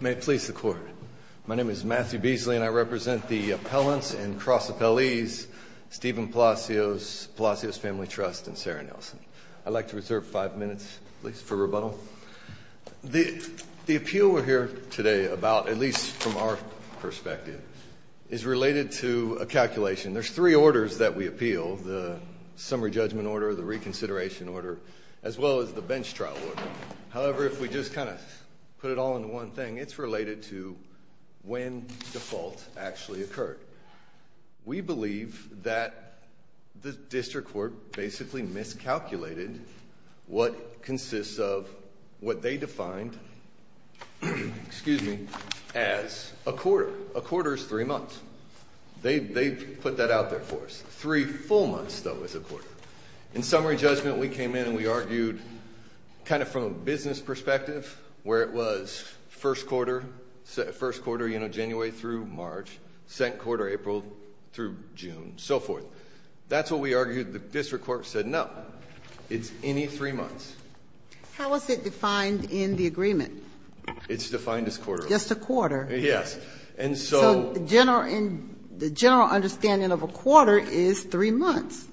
May it please the court. My name is Matthew Beasley and I represent the appellants and cross appellees Steven Palacios, Palacios Family Trust and Sarah Nelson. I'd like to reserve five minutes, please, for rebuttal. The appeal we're here today about, at least from our perspective, is related to a calculation. There's three orders that we appeal, the summary judgment order, the reconsideration order, as well as the bench trial order. However, if we just kind of put it all into one thing, it's related to when default actually occurred. We believe that the district court basically miscalculated what consists of what they defined, excuse me, as a quarter. A quarter is three months. They put that out there for us. Three full months, though, is a quarter. In summary judgment we came in and we argued, kind of from a business perspective, where it was first quarter, first quarter, you know, January through March, second quarter, April through June, so forth. That's what we argued. The district court said, no, it's any three months. How was it defined in the agreement? It's defined as quarter. Just a quarter? Yes. And so the general understanding of a quarter is three months.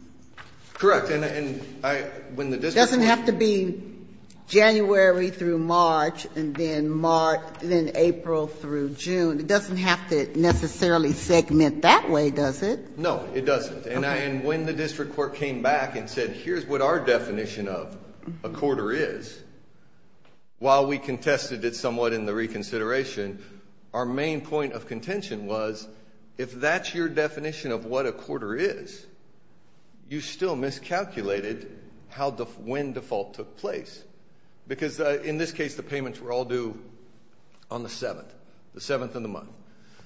Correct, and I, when the district... January through March, and then March, then April through June. It doesn't have to necessarily segment that way, does it? No, it doesn't, and I, and when the district court came back and said, here's what our definition of a quarter is, while we contested it somewhat in the reconsideration, our main point of contention was, if that's your definition of what a quarter is, you still miscalculated when default took place, because in this case the payments were all due on the 7th, the 7th of the month.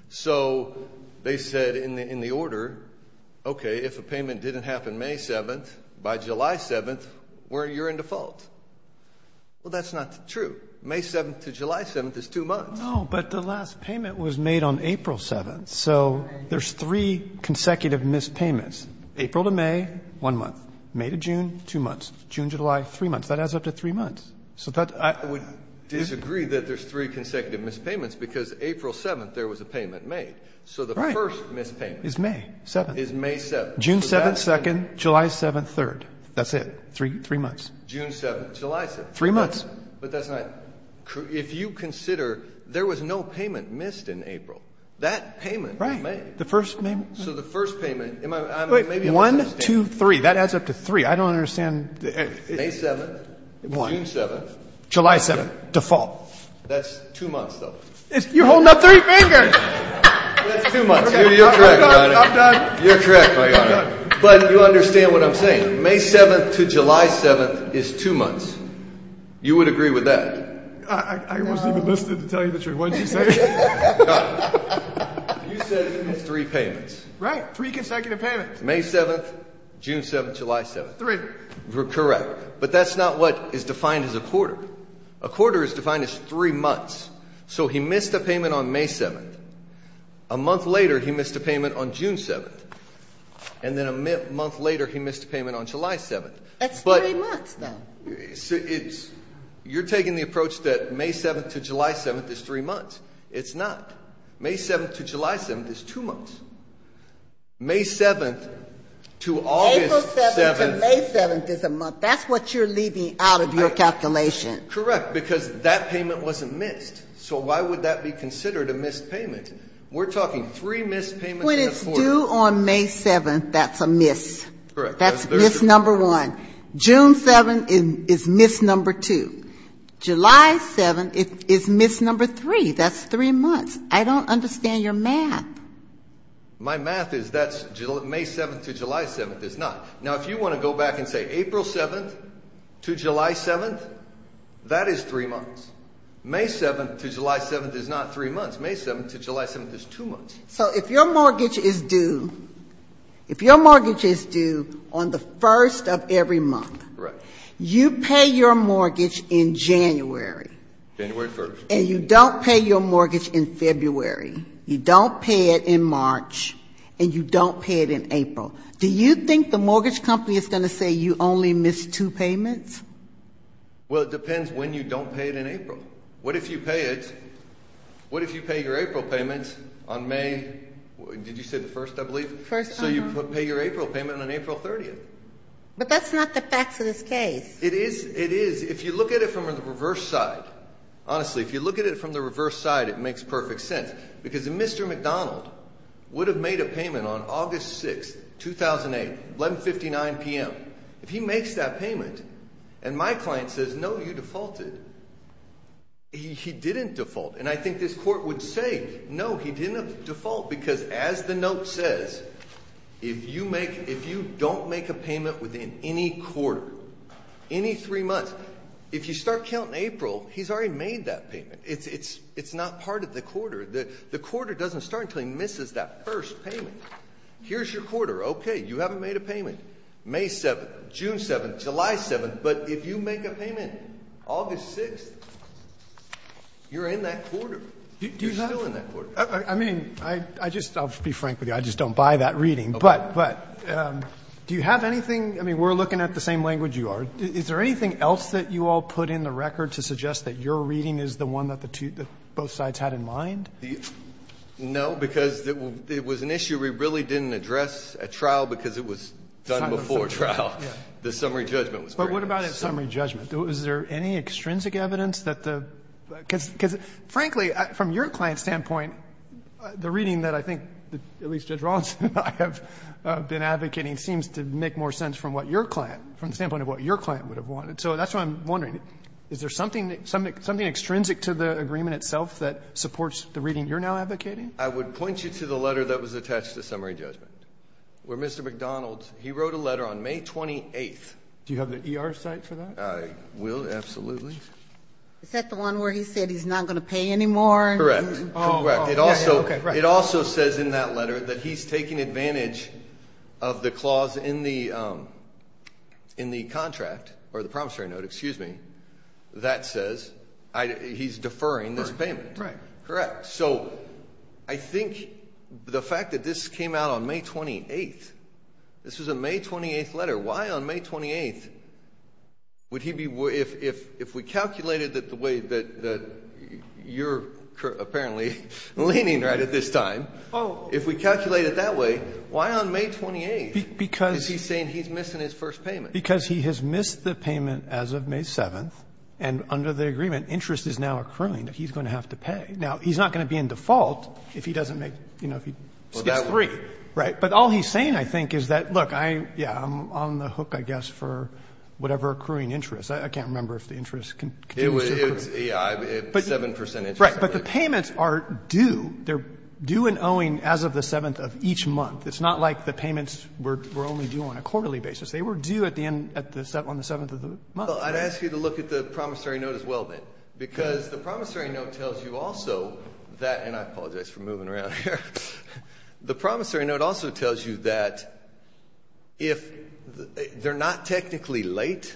So they said in the order, okay, if a payment didn't happen May 7th, by July 7th, you're in default. Well, that's not true. May 7th to July 7th is two months. No, but the last payment was made on April 7th, so there's three consecutive missed payments. April to May, one month. May to June, two months. June, July, three months. That adds up to three months. I would disagree that there's three consecutive missed payments, because April 7th there was a payment made, so the first missed payment is May 7th. June 7th, 2nd, July 7th, 3rd. That's it, three months. June 7th, July 7th. Three months. But that's not, if you consider there was no payment missed in June 3, that adds up to three. I don't understand. May 7th, June 7th. July 7th, default. That's two months, though. You're holding up three fingers! That's two months. You're correct, Your Honor. I'm done. But you understand what I'm saying. May 7th to July 7th is two months. You would agree with that? I wasn't even listening to tell you the truth. What did you say? You said he missed three payments. Right, three consecutive payments. May 7th, June 7th, July 7th. Three. Correct, but that's not what is defined as a quarter. A quarter is defined as three months, so he missed a payment on May 7th. A month later he missed a payment on June 7th, and then a month later he missed a payment on July 7th. That's three months, though. You're taking the approach that May 7th to July 7th is three months. It's not. May 7th to July 7th is two months. May 7th to August 7th. April 7th to May 7th is a month. That's what you're leaving out of your calculation. Correct, because that payment wasn't missed. So why would that be considered a missed payment? We're talking three missed payments in a quarter. When it's due on May 7th, that's a miss. That's miss number one. June 7th is miss number two. July 7th is miss number three. That's three months. I don't understand your math. My math is that May 7th to July 7th is not. Now if you want to go back and say April 7th to July 7th, that is three months. May 7th to July 7th is not three months. May 7th to July 7th is two months. So if your mortgage is due, if your mortgage is due on the first of every month, you pay your mortgage in January. January 1st. And you don't pay your mortgage in February. You don't pay it in March. And you don't pay it in April. Do you think the mortgage company is going to say you only missed two payments? Well, it depends when you don't pay it in April. What if you pay it, April payments on May? Did you say the first, I believe? So you pay your April payment on April 30th. But that's not the facts of this case. It is. It is. If you look at it from the reverse side, honestly, if you look at it from the reverse side, it makes perfect sense. Because Mr. McDonald would have made a payment on August 6th, 2008, 1159 p.m. If he makes that payment and my client says, no, you defaulted, he didn't default. And I think this court would say, no, he didn't default. Because as the note says, if you don't make a payment within any quarter, any three months, if you start counting April, he's already made that payment. It's not part of the quarter. The quarter doesn't start until he misses that first payment. Here's your quarter. OK, you haven't made a payment. May 7th, June 7th, July 7th. But if you make a payment August 6th, you're in that quarter. You're still in that quarter. I mean, I just I'll be frank with you. I just don't buy that reading. But but do you have anything? I mean, we're looking at the same language you are. Is there anything else that you all put in the record to suggest that your reading is the one that the two both sides had in mind? No, because it was an issue we really didn't address at trial because it was done before trial. The summary judgment was very much so. But what about a summary judgment? Was there any extrinsic evidence that the because because, frankly, from your client's standpoint, the reading that I think at least Judge Rawlinson and I have been advocating seems to make more sense from what your client from the standpoint of what your client would have wanted. So that's why I'm wondering, is there something something extrinsic to the agreement itself that supports the reading you're now advocating? I would point you to the letter that was attached to summary judgment, where Mr. McDonald he wrote a letter on May 28th. Do you have the ER site for that? I will. Absolutely. Is that the one where he said he's not going to pay anymore? Correct. Correct. It also it also says in that letter that he's taking advantage of the clause in the in the contract or the promissory note, excuse me, that says he's deferring this payment. Right. Correct. So I think the fact that this came out on May 28th, this was a May 28th letter. Why on May 28th would he be if if if we calculated that the way that you're apparently leaning right at this time, if we calculate it that way, why on May 28th is he saying he's missing his first payment? Because he has missed the payment as of May 7th. And under the agreement, interest is now accruing that he's going to have to pay. Now, he's not going to be in default if he doesn't make, you know, if he gets three. Right. But all he's saying, I think, is that, look, I yeah, I'm on the hook, I guess, for whatever accruing interest. I can't remember if the interest can it was seven percent. Right. But the payments are due. They're due and owing as of the 7th of each month. It's not like the payments were only due on a quarterly basis. They were due at the end at the 7th on the 7th of the month. I'd ask you to look at the promissory note as well, then, because the promissory note tells you also that. And I apologize for moving around here. The promissory note also tells you that if they're not technically late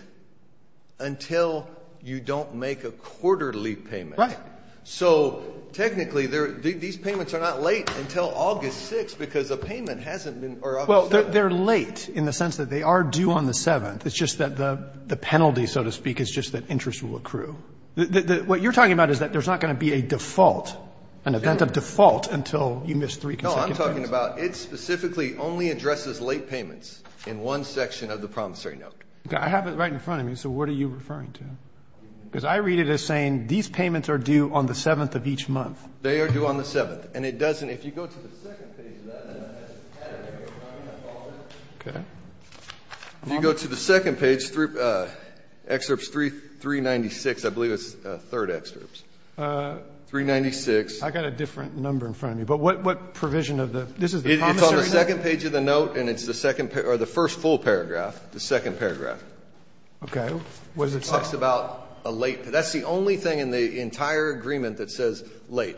until you don't make a quarterly payment. Right. So technically, these payments are not late until August 6th because the payment hasn't been. Well, they're late in the sense that they are due on the 7th. It's just that the penalty, so to speak, is just that interest will accrue. What you're talking about is that there's not going to be a default. An event of default until you miss three consecutive payments. No, I'm talking about it specifically only addresses late payments in one section of the promissory note. I have it right in front of me. So what are you referring to? Because I read it as saying these payments are due on the 7th of each month. They are due on the 7th. And it doesn't. If you go to the second page of that, then it has a category. You know what I mean? I followed it. If you go to the second page, excerpts 396, I believe it's third excerpts. Three ninety six. I got a different number in front of me. But what what provision of this is on the second page of the note? And it's the second or the first full paragraph, the second paragraph. OK, what does it say about a late? That's the only thing in the entire agreement that says late.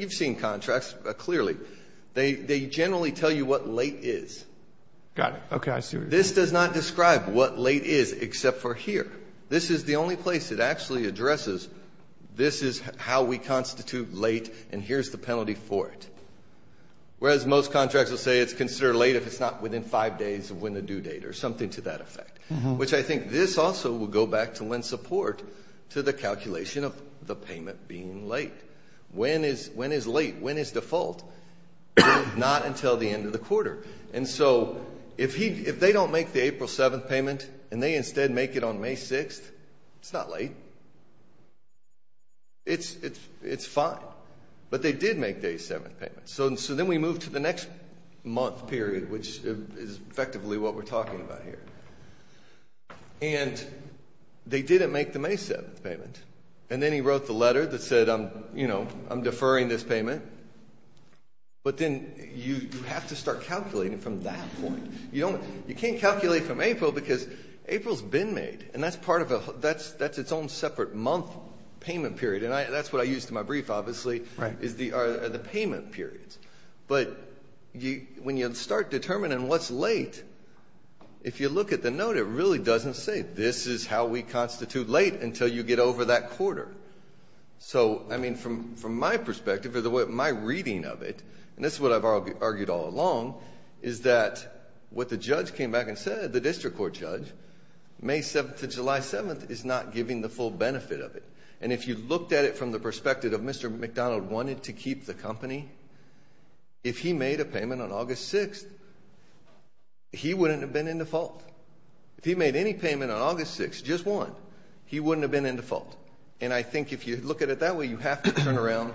You've seen contracts clearly. They generally tell you what late is. Got it. OK, I see. This does not describe what late is, except for here. This is the only place it actually addresses. This is how we constitute late. And here's the penalty for it. Whereas most contracts will say it's considered late if it's not within five days of when the due date or something to that effect, which I think this also will go back to when support to the calculation of the payment being late. When is when is late? When is default? Not until the end of the quarter. And so if he if they don't make the April 7th payment and they instead make it on May 6th, it's not late. It's it's it's fine. But they did make day seven payment. So so then we move to the next month period, which is effectively what we're talking about here. And they didn't make the May 7th payment. And then he wrote the letter that said, you know, I'm deferring this payment. But then you have to start calculating from that point. You don't you can't calculate from April because April's been made. And that's part of that's that's its own separate month payment period. And that's what I use to my brief, obviously, is the are the payment periods. But you when you start determining what's late, if you look at the note, it really doesn't say this is how we constitute late until you get over that quarter. So, I mean, from from my perspective or the way my reading of it, and this is what I've argued all along, is that what the judge came back and said, the district court judge, May 7th to July 7th is not giving the full benefit of it. And if you looked at it from the perspective of Mr. McDonald wanted to keep the company. If he made a payment on August 6th, he wouldn't have been in default. If he made any payment on August 6th, just one, he wouldn't have been in default. And I think if you look at it that way, you have to turn around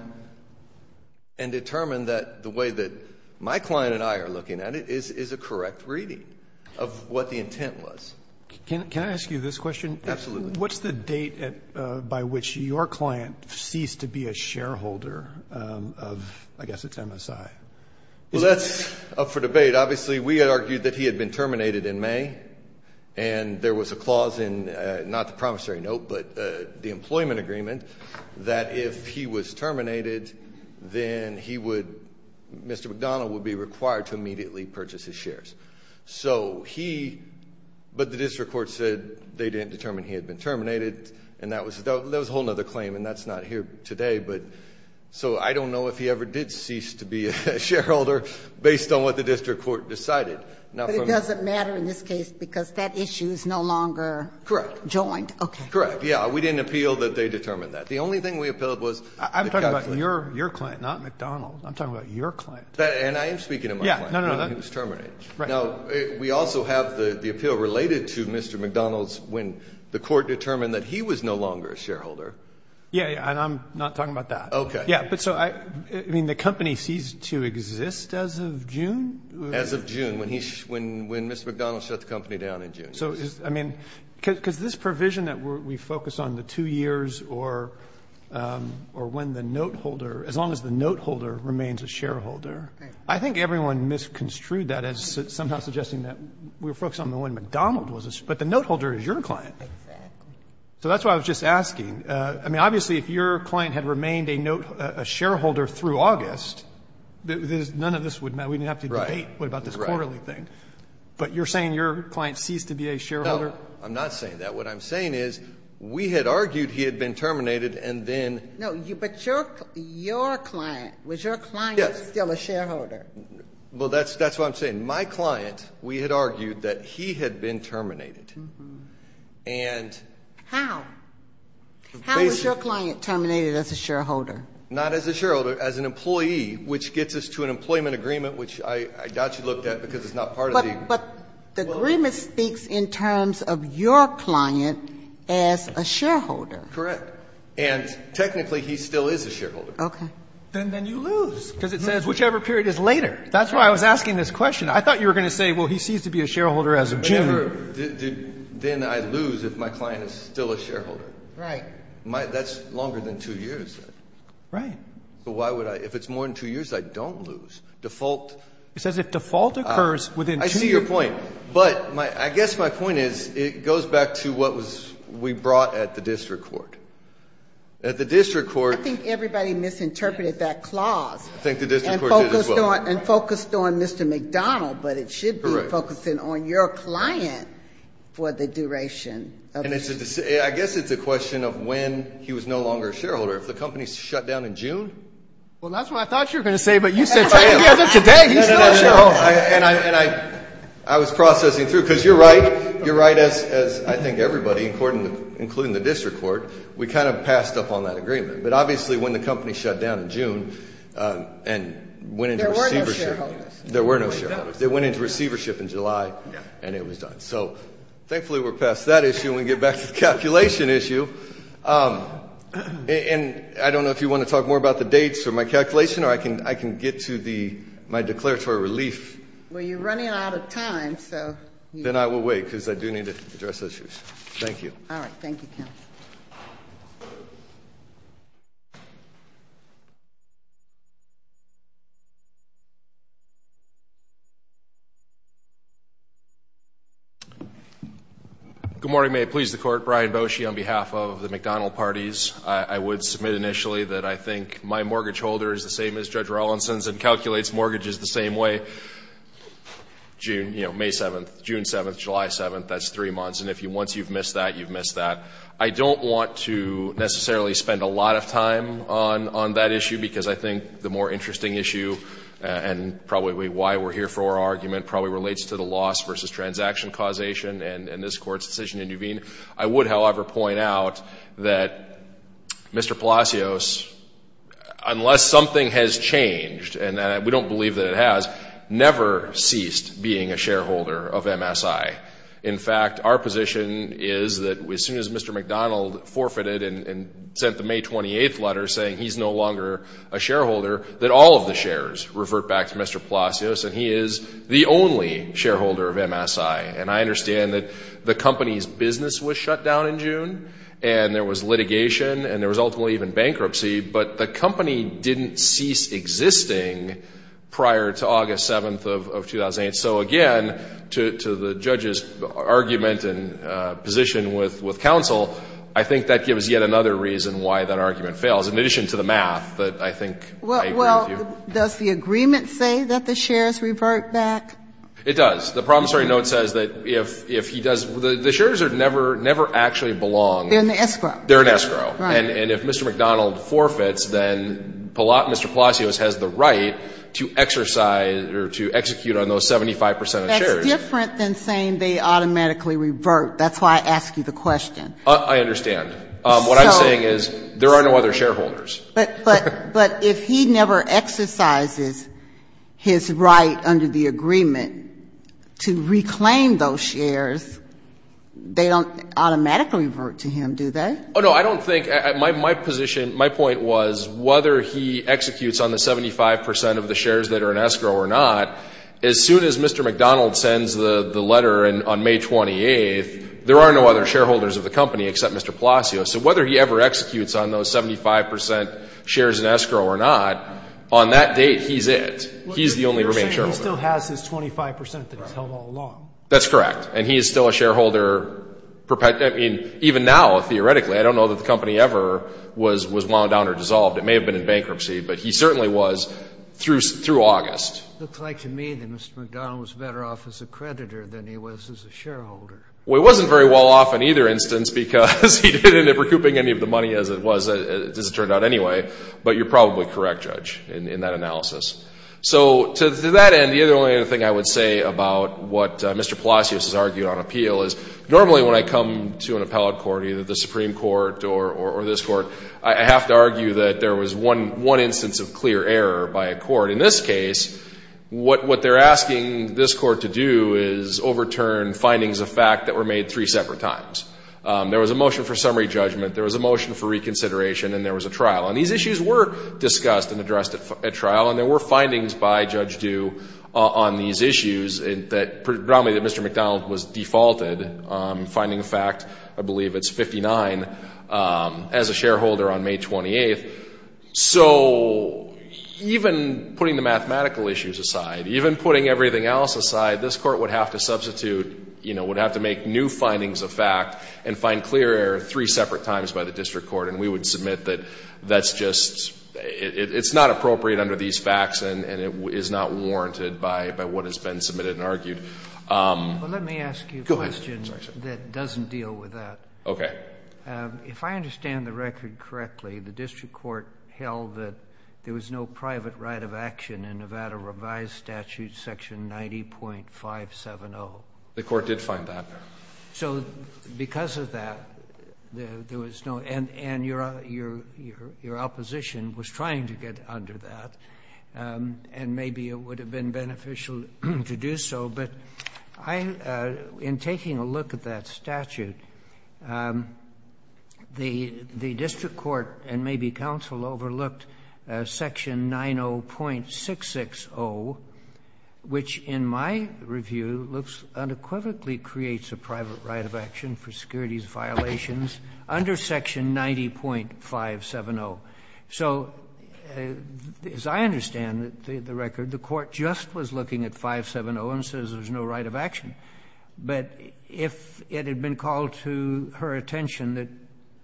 and determine that the way that my client and I are looking at it is a correct reading of what the intent was. Can I ask you this question? Absolutely. What's the date by which your client ceased to be a shareholder of? I guess it's MSI. Well, that's up for debate. Obviously, we argued that he had been terminated in May and there was a clause in not the promissory note, but the employment agreement that if he was terminated, then he would Mr. McDonald would be required to immediately purchase his shares. So he. But the district court said they didn't determine he had been terminated. And that was there was a whole nother claim. And that's not here today. But so I don't know if he ever did cease to be a shareholder based on what the district court decided. Now, it doesn't matter in this case because that issue is no longer correct. Joined. Correct. Yeah. We didn't appeal that they determined that the only thing we appealed was I'm talking about your your client, not McDonald. I'm talking about your client. And I am speaking to my. Yeah. No, no, no. It was terminated. Right. Now, we also have the appeal related to Mr. McDonald's when the court determined that he was no longer a shareholder. Yeah. And I'm not talking about that. OK. Yeah. But so I mean, the company ceased to exist as of June, as of June, when he when when Mr. McDonald shut the company down in June. So I mean, because this provision that we focus on the two years or or when the note holder, as long as the note holder remains a shareholder, I think everyone misconstrued that as somehow suggesting that we were focused on the one McDonald was, but the note holder is your client. So that's why I was just asking. I mean, obviously, if your client had remained a note, a shareholder through August, there's none of this would matter. We didn't have to write about this quarterly thing. But you're saying your client ceased to be a shareholder. I'm not saying that. What I'm saying is we had argued he had been terminated and then. No, but your your client, was your client still a shareholder? Well, that's that's what I'm saying. My client, we had argued that he had been terminated. And how? How was your client terminated as a shareholder? Not as a shareholder, as an employee, which gets us to an employment agreement, which I doubt you looked at because it's not part of the. But the agreement speaks in terms of your client as a shareholder. Correct. And technically, he still is a shareholder. OK, then then you lose because it says whichever period is later. That's why I was asking this question. I thought you were going to say, well, he seems to be a shareholder as a general. Then I lose if my client is still a shareholder. Right. That's longer than two years. Right. But why would I if it's more than two years, I don't lose default. It's as if default occurs within. I see your point. But I guess my point is it goes back to what was we brought at the district court. At the district court, I think everybody misinterpreted that clause. I think the district court did as well. And focused on Mr. McDonald. But it should be focusing on your client for the duration. And it's a I guess it's a question of when he was no longer a shareholder. If the company shut down in June. Well, that's what I thought you were going to say. But you said today and I and I I was processing through because you're right. You're right. As as I think everybody important, including the district court, we kind of passed up on that agreement. But obviously, when the company shut down in June and when there were no shareholders, they went into receivership in July and it was done. So thankfully, we're past that issue and get back to the calculation issue. And I don't know if you want to talk more about the dates for my calculation or I can I can get to the my declaratory relief. Well, you're running out of time. So then I will wait because I do need to address those issues. Thank you. All right. Thank you. Good morning, may it please the court. Brian Boshi, on behalf of the McDonald parties, I would submit initially that I think my mortgage holder is the same as Judge Rawlinson's and calculates mortgages the same way. June, you know, May 7th, June 7th, July 7th, that's three months. And if you once you've missed that, you've missed that. I don't want to necessarily spend a lot of time on on that issue, because I think the more interesting issue and probably why we're here for our argument probably relates to the loss versus transaction causation. And this court's decision to intervene. I would, however, point out that Mr. Palacios, unless something has changed and we don't believe that it has, never ceased being a shareholder of MSI. In fact, our position is that as soon as Mr. McDonald forfeited and sent the May 28th letter saying he's no longer a shareholder, that all of the shares revert back to Mr. Palacios and he is the only shareholder of MSI. And I understand that the company's business was shut down in June and there was litigation and there was ultimately even bankruptcy, but the company didn't cease existing prior to August 7th of 2008. So again, to the judge's argument and position with counsel, I think that gives yet another reason why that argument fails, in addition to the math that I think I agree with you. Well, does the agreement say that the shares revert back? It does. The promissory note says that if he does the shares never actually belong. They're an escrow. They're an escrow. And if Mr. McDonald forfeits, then Mr. Palacios has the right to exercise or to execute on those 75 percent of shares. That's different than saying they automatically revert. That's why I asked you the question. I understand. What I'm saying is there are no other shareholders. But if he never exercises his right under the agreement to reclaim those shares, they don't automatically revert to him, do they? No, I don't think, my position, my point was whether he executes on the 75 percent of the shares that are an escrow or not, as soon as Mr. McDonald sends the letter on May 28th, there are no other shareholders of the company except Mr. Palacios. So whether he ever executes on those 75 percent shares in escrow or not, on that date, he's it. He's the only remaining shareholder. You're saying he still has his 25 percent that he's held all along. That's correct. And he is still a shareholder. Even now, theoretically, I don't know that the company ever was wound down or dissolved. It may have been in bankruptcy, but he certainly was through August. Looks like to me that Mr. McDonald was better off as a creditor than he was as a shareholder. Well, he wasn't very well off in either instance because he didn't end up recouping any of the money as it was, as it turned out anyway. But you're probably correct, Judge, in that analysis. So to that end, the only other thing I would say about what Mr. McDonald did, and I would come to an appellate court, either the Supreme Court or this court, I have to argue that there was one instance of clear error by a court. In this case, what they're asking this court to do is overturn findings of fact that were made three separate times. There was a motion for summary judgment. There was a motion for reconsideration. And there was a trial. And these issues were discussed and addressed at trial. And there were findings by Judge Due on these issues that, probably that Mr. McDonald was defaulted, finding fact, I believe it's 59, as a shareholder on May 28th. So even putting the mathematical issues aside, even putting everything else aside, this court would have to substitute, would have to make new findings of fact and find clear error three separate times by the district court. And we would submit that that's just, it's not appropriate under these facts But let me ask you a question that doesn't deal with that. Okay. If I understand the record correctly, the district court held that there was no private right of action in Nevada revised statute section 90.570. The court did find that. So because of that, there was no, and your opposition was trying to get under that. And maybe it would have been beneficial to do so. But in taking a look at that statute, the district court and maybe counsel overlooked section 90.660, which in my review looks unequivocally creates a private right of action for securities violations under section 90.570. So as I understand the record, the court just was looking at 570 and says there's no right of action. But if it had been called to her attention that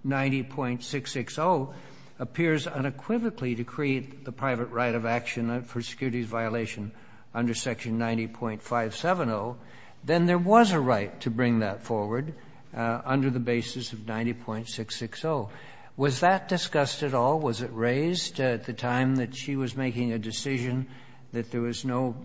90.660 appears unequivocally to create the private right of action for securities violation under section 90.570, then there was a right to bring that forward under the basis of 90.660. Was that discussed at all? Was it raised at the time that she was making a decision that there was no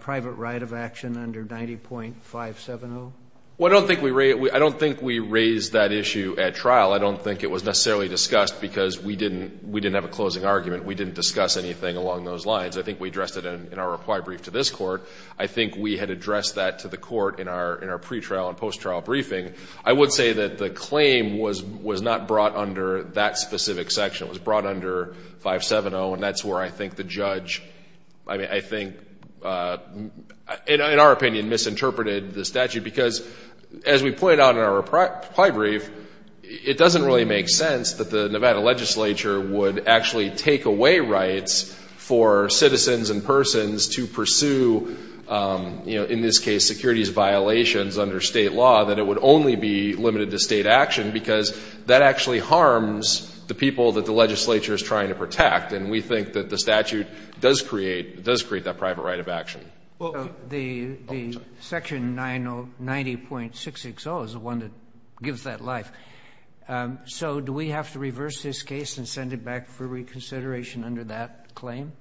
private right of action under 90.570? Well, I don't think we raised that issue at trial. I don't think it was necessarily discussed because we didn't have a closing argument. We didn't discuss anything along those lines. I think we addressed it in our reply brief to this court. I think we had addressed that to the court in our pretrial and post-trial briefing. I would say that the claim was not brought under that specific section. It was brought under 570, and that's where I think the judge, I mean, I think, in our opinion, misinterpreted the statute. Because, as we pointed out in our reply brief, it doesn't really make sense that the Nevada legislature would actually take away rights for citizens and persons to pursue, in this case, securities violations under state law, that it would only be limited to state action, because that actually harms the people that the legislature is trying to protect, and we think that the statute does create that private right of action. The section 90.660 is the one that gives that life. So do we have to reverse this case and send it back for reconsideration under that claim?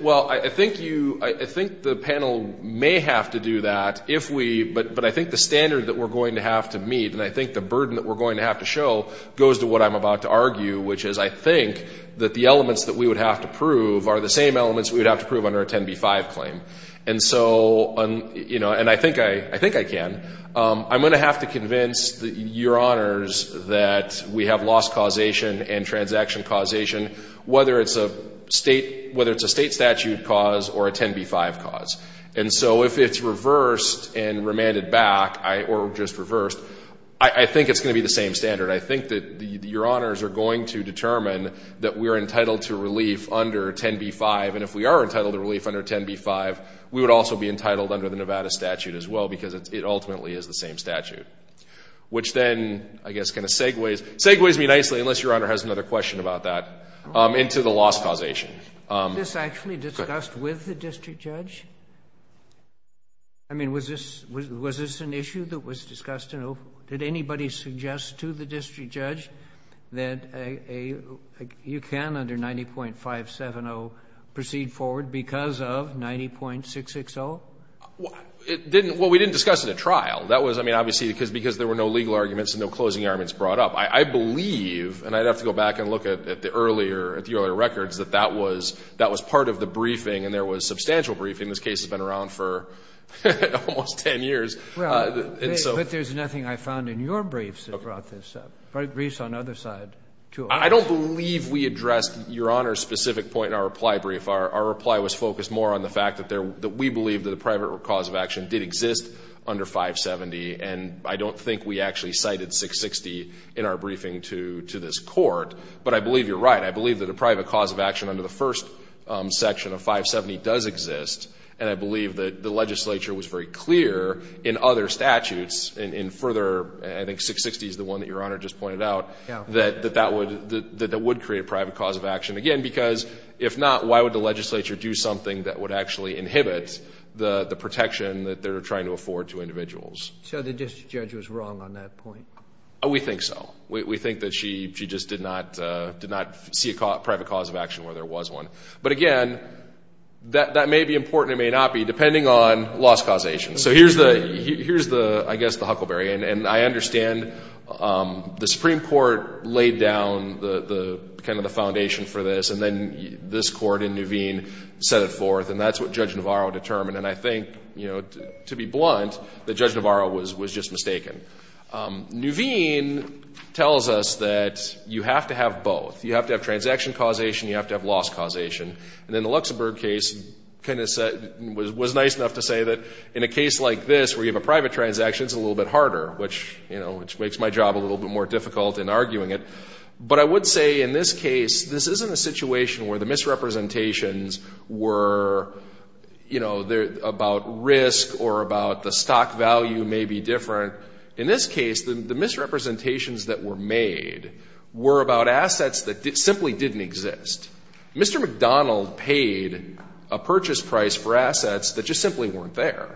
Well, I think you, I think the panel may have to do that if we, but I think the standard that we're going to have to meet, and I think the burden that we're going to have to show, goes to what I'm about to argue, which is I think that the elements that we would have to prove are the same elements we would have to prove under a 10b-5 claim. And so, you know, and I think I can. I'm going to have to convince your honors that we have loss causation and transaction causation, whether it's a state statute cause or a 10b-5 cause. And so if it's reversed and remanded back, or just reversed, I think it's going to be the same standard. I think that your honors are going to determine that we're entitled to relief under 10b-5, and if we are entitled to relief under 10b-5, we would also be entitled under the Nevada statute as well, because it ultimately is the same statute, which then I guess kind of segues, segues me nicely, unless your honor has another question about that, into the loss causation. Is this actually discussed with the district judge? I mean, was this an issue that was discussed? Did anybody suggest to the district judge that you can, under 90.570, proceed forward because of 90.660? Well, we didn't discuss it at trial. That was, I mean, obviously because there were no legal arguments and no closing arguments brought up. I believe, and I'd have to go back and look at the earlier records, that that was part of the briefing, and there was substantial briefing. This case has been around for almost 10 years. Well, but there's nothing I found in your briefs that brought this up. Briefs on other side, too. I don't believe we addressed your honor's specific point in our reply brief. Our reply was focused more on the fact that we believe that the private cause of action did exist under 570, and I don't think we actually cited 660 in our briefing to this court, but I believe you're right. I believe that a private cause of action under the first section of 570 does exist, and I believe that the legislature was very clear in other statutes, and in further, I think 660 is the one that your honor just pointed out, that that would create a private cause of action. Again, because if not, why would the legislature do something that would actually inhibit the protection that they're trying to afford to individuals? So the district judge was wrong on that point? We think so. We think that she just did not see a private cause of action where there was one. But again, that may be important, it may not be, depending on loss causation. So here's the, I guess, the huckleberry, and I understand the Supreme Court laid down kind of the foundation for this, and then this court and Nuveen set it forth, and that's what Judge Navarro determined, and I think, to be blunt, that Judge Navarro was just mistaken. Nuveen tells us that you have to have both. You have to have transaction causation, you have to have loss causation, and then the Luxembourg case was nice enough to say that in a case like this where you have a private transaction, it's a little bit harder, which makes my job a little bit more difficult in arguing it. But I would say in this case, this isn't a situation where the misrepresentations were about risk or about the stock value may be different. In this case, the misrepresentations that were made were about assets that simply didn't exist. Mr. McDonald paid a purchase price for assets that just simply weren't there.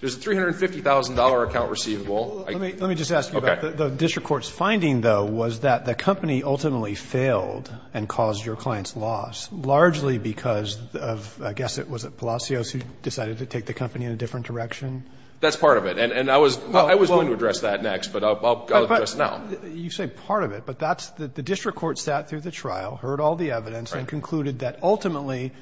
There's a $350,000 account receivable. Let me just ask you about the district court's finding, though, was that the company ultimately failed and caused your client's loss, largely because of, I guess, was it Palacios who decided to take the company in a different direction? That's part of it. And I was going to address that next, but I'll address it now. You say part of it, but the district court sat through the trial, heard all the evidence, and concluded that ultimately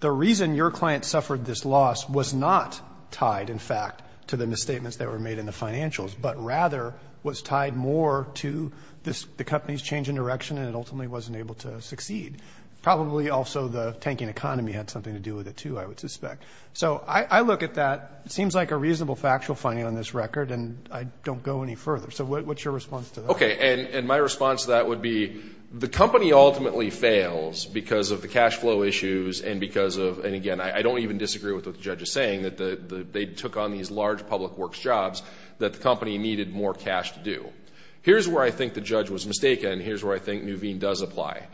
the reason your client suffered this loss was not tied, in fact, to the misstatements that were made in the financials, but rather was tied more to the company's change in direction and it ultimately wasn't able to succeed. Probably also the tanking economy had something to do with it, too, I would suspect. Right. So I look at that. It seems like a reasonable factual finding on this record, and I don't go any further. So what's your response to that? Okay. And my response to that would be the company ultimately fails because of the cash flow issues and because of, and again, I don't even disagree with what the judge is saying, that they took on these large public works jobs that the company needed more cash to do. Here's where I think the judge was mistaken, and here's where I think Nuveen does apply.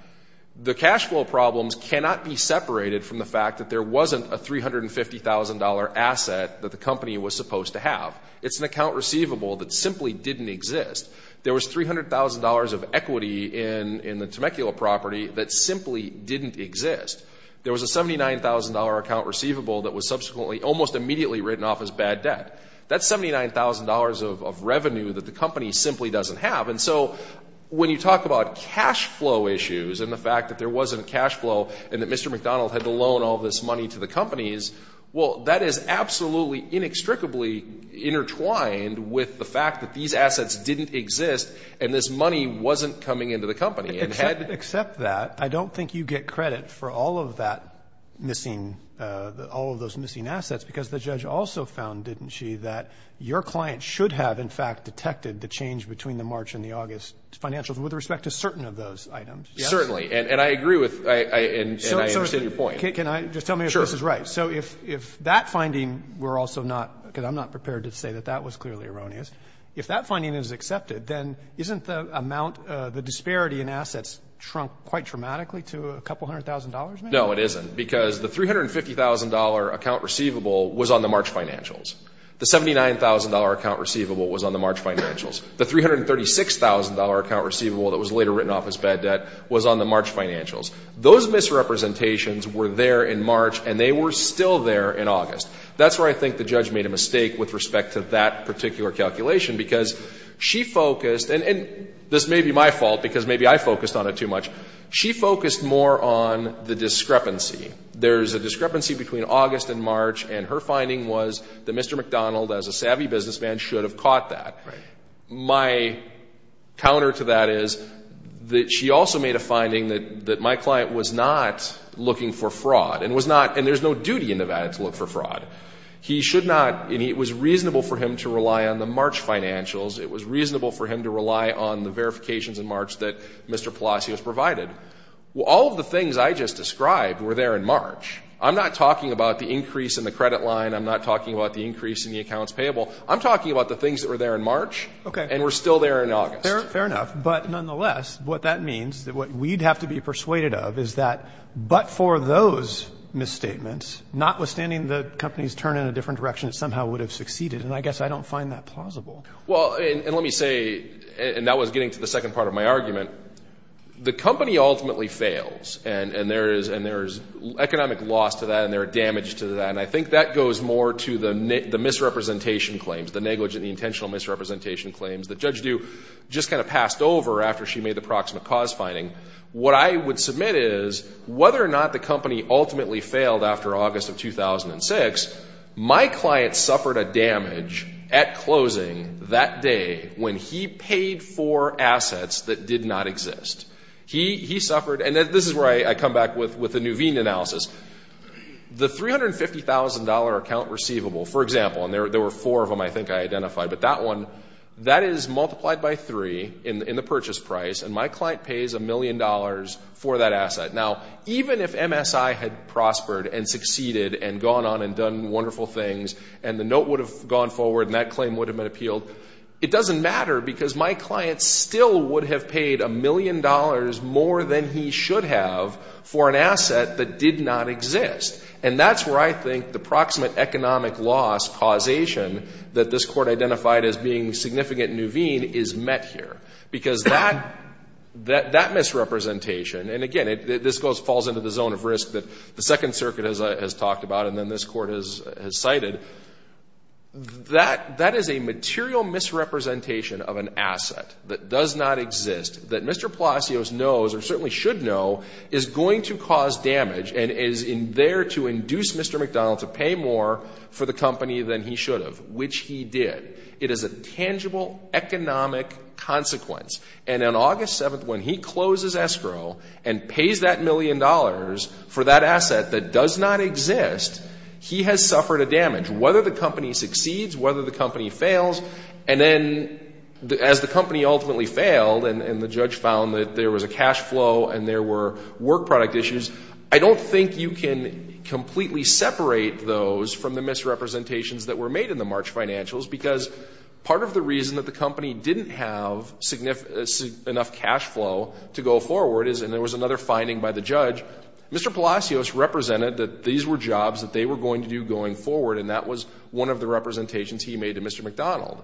The cash flow problems cannot be separated from the fact that there wasn't a $350,000 asset that the company was supposed to have. It's an account receivable that simply didn't exist. There was $300,000 of equity in the Temecula property that simply didn't exist. There was a $79,000 account receivable that was subsequently almost immediately written off as bad debt. That's $79,000 of revenue that the company simply doesn't have. And so when you talk about cash flow issues and the fact that there wasn't this money to the companies, well, that is absolutely inextricably intertwined with the fact that these assets didn't exist and this money wasn't coming into the company. Except that, I don't think you get credit for all of that missing, all of those missing assets because the judge also found, didn't she, that your client should have, in fact, detected the change between the March and the August financials with respect to certain of those items. Certainly. And I agree with, and I understand your point. Can I just tell me if this is right? Sure. So if that finding, we're also not, because I'm not prepared to say that that was clearly erroneous, if that finding is accepted, then isn't the amount, the disparity in assets shrunk quite dramatically to a couple hundred thousand dollars maybe? No, it isn't because the $350,000 account receivable was on the March financials. The $79,000 account receivable was on the March financials. The $336,000 account receivable that was later written off as bad debt was on the March financials. Those misrepresentations were there in March and they were still there in August. That's where I think the judge made a mistake with respect to that particular calculation because she focused, and this may be my fault because maybe I focused on it too much, she focused more on the discrepancy. There's a discrepancy between August and March and her finding was that Mr. McDonald, as a savvy businessman, should have caught that. My counter to that is that she also made a finding that my client was not looking for fraud and was not, and there's no duty in Nevada to look for fraud. He should not, and it was reasonable for him to rely on the March financials. It was reasonable for him to rely on the verifications in March that Mr. Palacios provided. All of the things I just described were there in March. I'm not talking about the increase in the credit line. I'm not talking about the increase in the accounts payable. I'm talking about the things that were there in March and were still there in August. Fair enough, but nonetheless, what that means, what we'd have to be persuaded of is that but for those misstatements, notwithstanding the companies turn in a different direction, it somehow would have succeeded, and I guess I don't find that plausible. Well, and let me say, and that was getting to the second part of my argument, the company ultimately fails and there's economic loss to that and there's damage to that, and I think that goes more to the misrepresentation claims, the negligent, the intentional misrepresentation claims that Judge Dew just kind of passed over after she made the proximate cause finding. What I would submit is whether or not the company ultimately failed after August of 2006, my client suffered a damage at closing that day when he paid for assets that did not exist. He suffered, and this is where I come back with the Nuveen analysis. The $350,000 account receivable, for example, and there were four of them I think I identified, but that one, that is multiplied by three in the purchase price, and my client pays a million dollars for that asset. Now, even if MSI had prospered and succeeded and gone on and done wonderful things and the note would have gone forward and that claim would have been appealed, it doesn't matter because my client still would have paid a million dollars more than he should have for an asset that did not exist, and that's where I think the proximate economic loss causation that this Court identified as being significant Nuveen is met here because that misrepresentation, and again, this falls into the zone of risk that the Second Circuit has talked about and then this Court has cited, that is a material misrepresentation of an asset that does not exist that Mr. Palacios knows or certainly should know is going to cause damage and is there to induce Mr. McDonald to pay more for the company than he should have, which he did. It is a tangible economic consequence, and on August 7th when he closes escrow and pays that million dollars for that asset that does not exist, he has suffered a damage, whether the company succeeds, whether the company fails, and then as the company ultimately failed and the judge found that there was a cash flow and there were work product issues, I don't think you can completely separate those from the misrepresentations that were made in the March financials because part of the reason that the company didn't have enough cash flow to go forward is, and there was another finding by the judge, Mr. Palacios represented that these were jobs that they were going to do going forward and that was one of the representations he made to Mr. McDonald.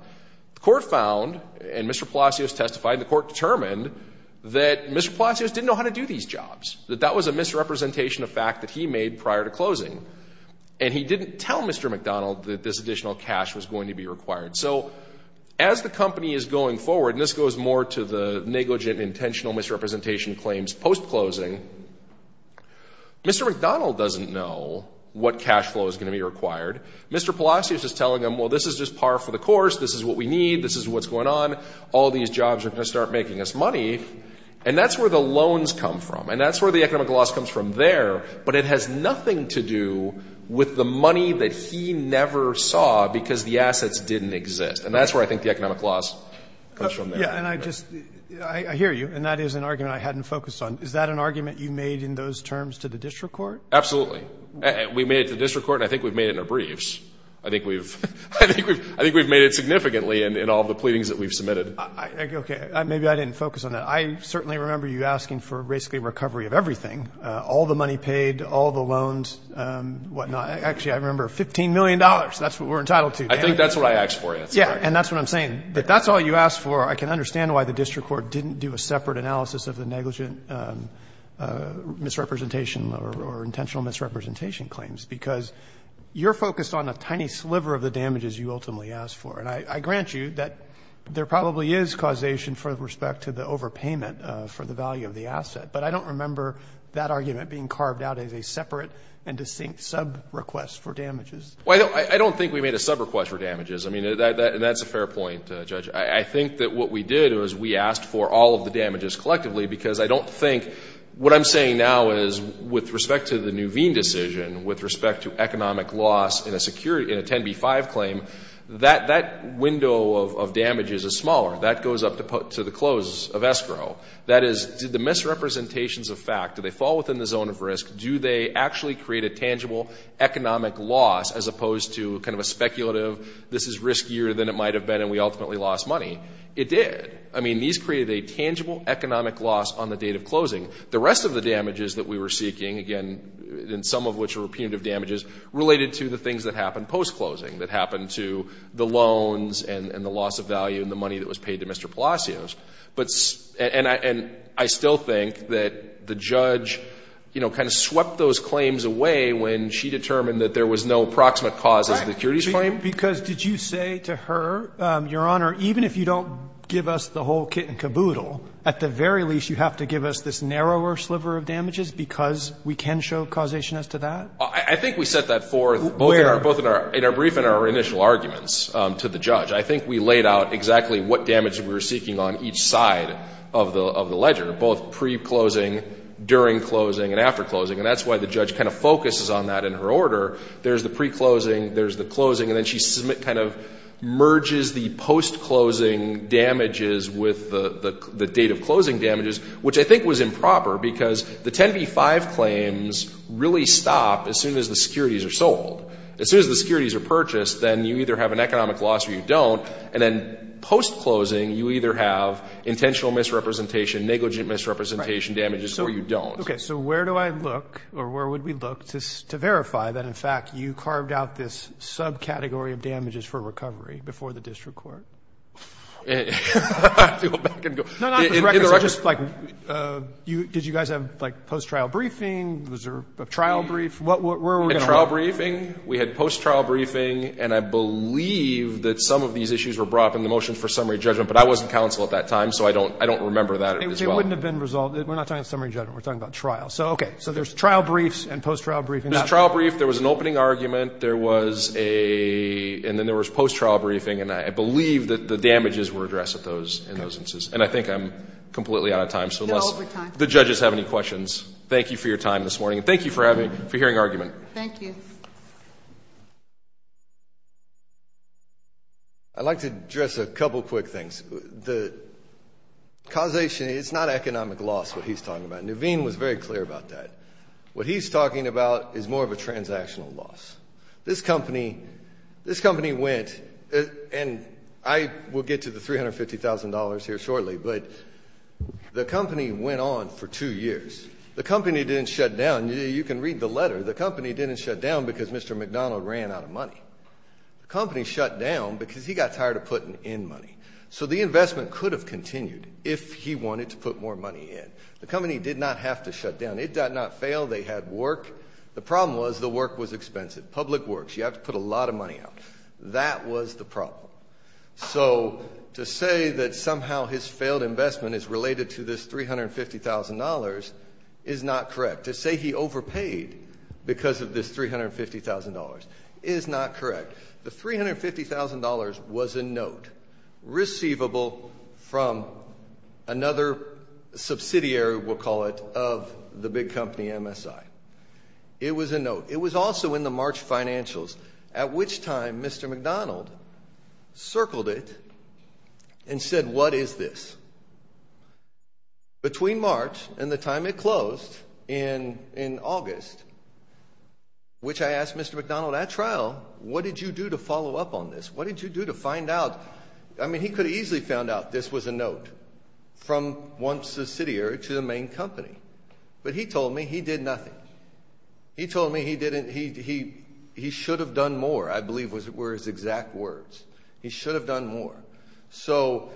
The court found, and Mr. Palacios testified, the court determined that Mr. Palacios didn't know how to do these jobs, that that was a misrepresentation of fact that he made prior to closing, and he didn't tell Mr. McDonald that this additional cash was going to be required. So as the company is going forward, and this goes more to the negligent intentional misrepresentation claims post-closing, Mr. McDonald doesn't know what cash flow is going to be required. Mr. Palacios is telling him, well, this is just par for the course. This is what we need. This is what's going on. All these jobs are going to start making us money, and that's where the loans come from, and that's where the economic loss comes from there, but it has nothing to do with the money that he never saw because the assets didn't exist, and that's where I think the economic loss comes from. Yeah, and I just, I hear you, and that is an argument I hadn't focused on. Is that an argument you made in those terms to the district court? Absolutely. We made it to the district court, and I think we've made it in our briefs. I think we've made it significantly in all the pleadings that we've submitted. Okay. Maybe I didn't focus on that. I certainly remember you asking for basically recovery of everything, all the money paid, all the loans, whatnot. Actually, I remember $15 million. That's what we're entitled to. I think that's what I asked for. Yeah, and that's what I'm saying. If that's all you asked for, I can understand why the district court didn't do a separate analysis of the negligent misrepresentation or intentional misrepresentation claims because you're focused on a tiny sliver of the damages you ultimately asked for, and I grant you that there probably is causation with respect to the overpayment for the value of the asset, but I don't remember that argument being carved out as a separate and distinct sub-request for damages. Well, I don't think we made a sub-request for damages. I mean, that's a fair point, Judge. I think that what we did was we asked for all of the damages collectively because I don't think what I'm saying now is with respect to the Nuveen decision, with respect to economic loss in a 10b-5 claim, that window of damages is smaller. That goes up to the close of escrow. That is, did the misrepresentations of fact, do they fall within the zone of risk, do they actually create a tangible economic loss as opposed to kind of a It did. I mean, these created a tangible economic loss on the date of closing. The rest of the damages that we were seeking, again, some of which were punitive damages, related to the things that happened post-closing, that happened to the loans and the loss of value and the money that was paid to Mr. Palacios. And I still think that the judge, you know, kind of swept those claims away when she determined that there was no proximate cause as the securities claim. Because did you say to her, Your Honor, even if you don't give us the whole kit and caboodle, at the very least you have to give us this narrower sliver of damages because we can show causation as to that? I think we set that forth both in our brief and our initial arguments to the judge. I think we laid out exactly what damage we were seeking on each side of the ledger, both pre-closing, during closing, and after closing. And that's why the judge kind of focuses on that in her order. There's the pre-closing. There's the closing. And then she kind of merges the post-closing damages with the date of closing damages, which I think was improper because the 10b-5 claims really stop as soon as the securities are sold. As soon as the securities are purchased, then you either have an economic loss or you don't. And then post-closing, you either have intentional misrepresentation, negligent misrepresentation damages, or you don't. Okay. So where do I look or where would we look to verify that, in fact, you carved out this subcategory of damages for recovery before the district court? To go back and go. No, not in the record. Just like did you guys have like post-trial briefing? Was there a trial brief? Where were we going to look? A trial briefing. We had post-trial briefing. And I believe that some of these issues were brought up in the motion for summary judgment, but I wasn't counsel at that time, so I don't remember that as well. It wouldn't have been resolved. We're not talking summary judgment. We're talking about trial. So, okay. So there's trial briefs and post-trial briefings. There's a trial brief. There was an opening argument. There was a, and then there was post-trial briefing, and I believe that the damages were addressed in those instances. And I think I'm completely out of time, so unless the judges have any questions, thank you for your time this morning, and thank you for hearing argument. Thank you. I'd like to address a couple quick things. The causation, it's not economic loss, what he's talking about. And Naveen was very clear about that. What he's talking about is more of a transactional loss. This company, this company went, and I will get to the $350,000 here shortly, but the company went on for two years. The company didn't shut down. You can read the letter. The company didn't shut down because Mr. McDonald ran out of money. The company shut down because he got tired of putting in money. So the investment could have continued if he wanted to put more money in. The company did not have to shut down. It did not fail. They had work. The problem was the work was expensive, public works. You have to put a lot of money out. That was the problem. So to say that somehow his failed investment is related to this $350,000 is not correct. To say he overpaid because of this $350,000 is not correct. The $350,000 was a note receivable from another subsidiary, we'll call it, of the big company MSI. It was a note. It was also in the March financials, at which time Mr. McDonald circled it and said, what is this? Between March and the time it closed in August, which I asked Mr. McDonald at trial, what did you do to follow up on this? What did you do to find out? I mean, he could have easily found out this was a note from one subsidiary to the main company. But he told me he did nothing. He told me he should have done more, I believe, were his exact words. He should have done more. So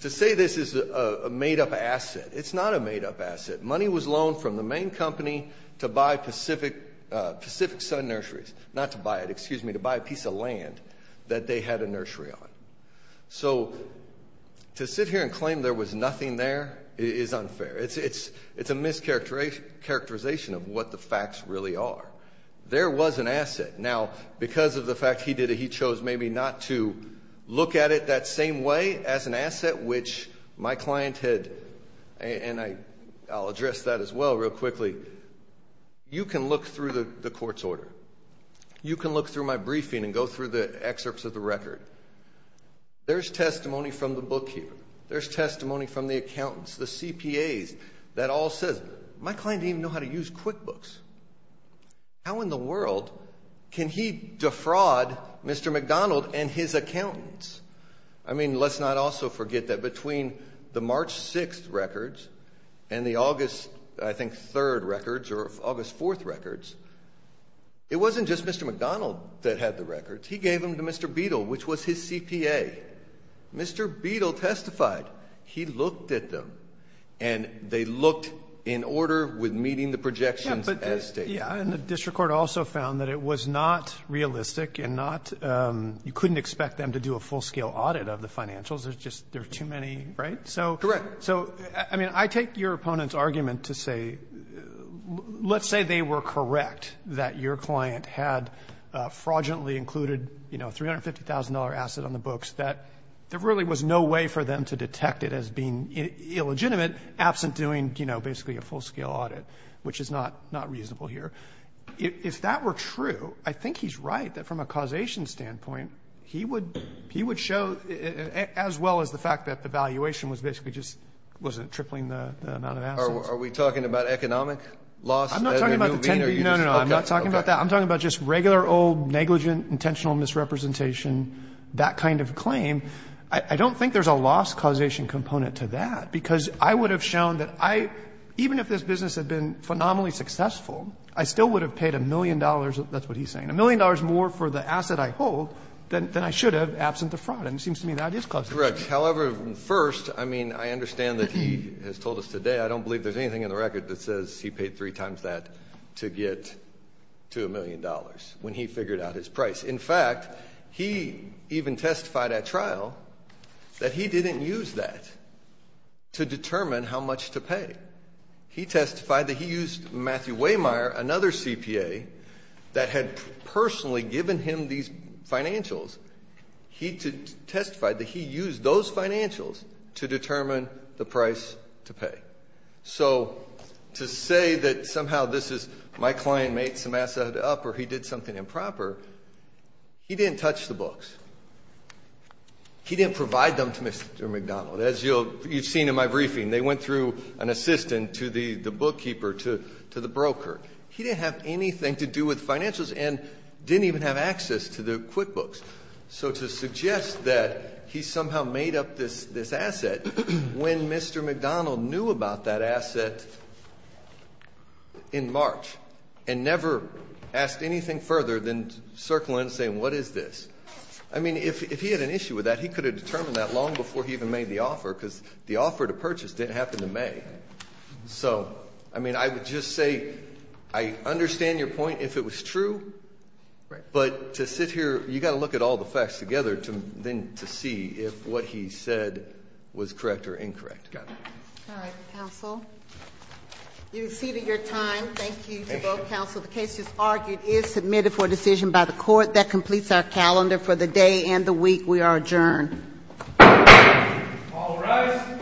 to say this is a made-up asset, it's not a made-up asset. Money was loaned from the main company to buy Pacific Sun Nurseries. Not to buy it, excuse me, to buy a piece of land that they had a nursery on. So to sit here and claim there was nothing there is unfair. It's a mischaracterization of what the facts really are. There was an asset. Now, because of the fact he did it, he chose maybe not to look at it that same way as an asset, which my client had, and I'll address that as well real quickly, you can look through the court's order. You can look through my briefing and go through the excerpts of the record. There's testimony from the bookkeeper. There's testimony from the accountants, the CPAs that all says, my client didn't even know how to use QuickBooks. How in the world can he defraud Mr. McDonald and his accountants? I mean, let's not also forget that between the March 6th records and the August, I think, 3rd records or August 4th records, it wasn't just Mr. McDonald that had the records. He gave them to Mr. Beadle, which was his CPA. Mr. Beadle testified. He looked at them, and they looked in order with meeting the projections as stated. And the district court also found that it was not realistic and you couldn't expect them to do a full-scale audit of the financials. There's just too many, right? Correct. So, I mean, I take your opponent's argument to say, let's say they were correct, that your client had fraudulently included a $350,000 asset on the books, that there really was no way for them to detect it as being illegitimate absent doing basically a full-scale audit, which is not reasonable here. If that were true, I think he's right that from a causation standpoint, he would show as well as the fact that the valuation was basically just wasn't tripling the amount of assets. Are we talking about economic loss? I'm not talking about the 10 billion. No, no, no. I'm not talking about that. I'm talking about just regular old negligent intentional misrepresentation, that kind of claim. I don't think there's a loss causation component to that, because I would have shown that I, even if this business had been phenomenally successful, I still would have paid a million dollars, that's what he's saying, a million dollars more for the asset I hold than I should have absent the fraud. And it seems to me that is close enough. Correct. However, first, I mean, I understand that he has told us today, I don't believe there's anything in the record that says he paid three times that to get to a million dollars when he figured out his price. In fact, he even testified at trial that he didn't use that to determine how much to pay. He testified that he used Matthew Wehmeyer, another CPA, that had personally given him these financials. He testified that he used those financials to determine the price to pay. So to say that somehow this is my client made some asset up or he did something improper, he didn't touch the books. He didn't provide them to Mr. McDonald. As you've seen in my briefing, they went through an assistant to the bookkeeper, to the broker. He didn't have anything to do with financials and didn't even have access to the QuickBooks. So to suggest that he somehow made up this asset when Mr. McDonald knew about that asset in March and never asked anything further than circling and saying what is this. I mean, if he had an issue with that, he could have determined that long before he even made the offer because the offer to purchase didn't happen in May. So, I mean, I would just say I understand your point if it was true. Right. But to sit here, you've got to look at all the facts together to see if what he said was correct or incorrect. Got it. All right, counsel. You've exceeded your time. Thank you to both counsel. The case, as argued, is submitted for decision by the court. That completes our calendar for the day and the week. We are adjourned. All rise.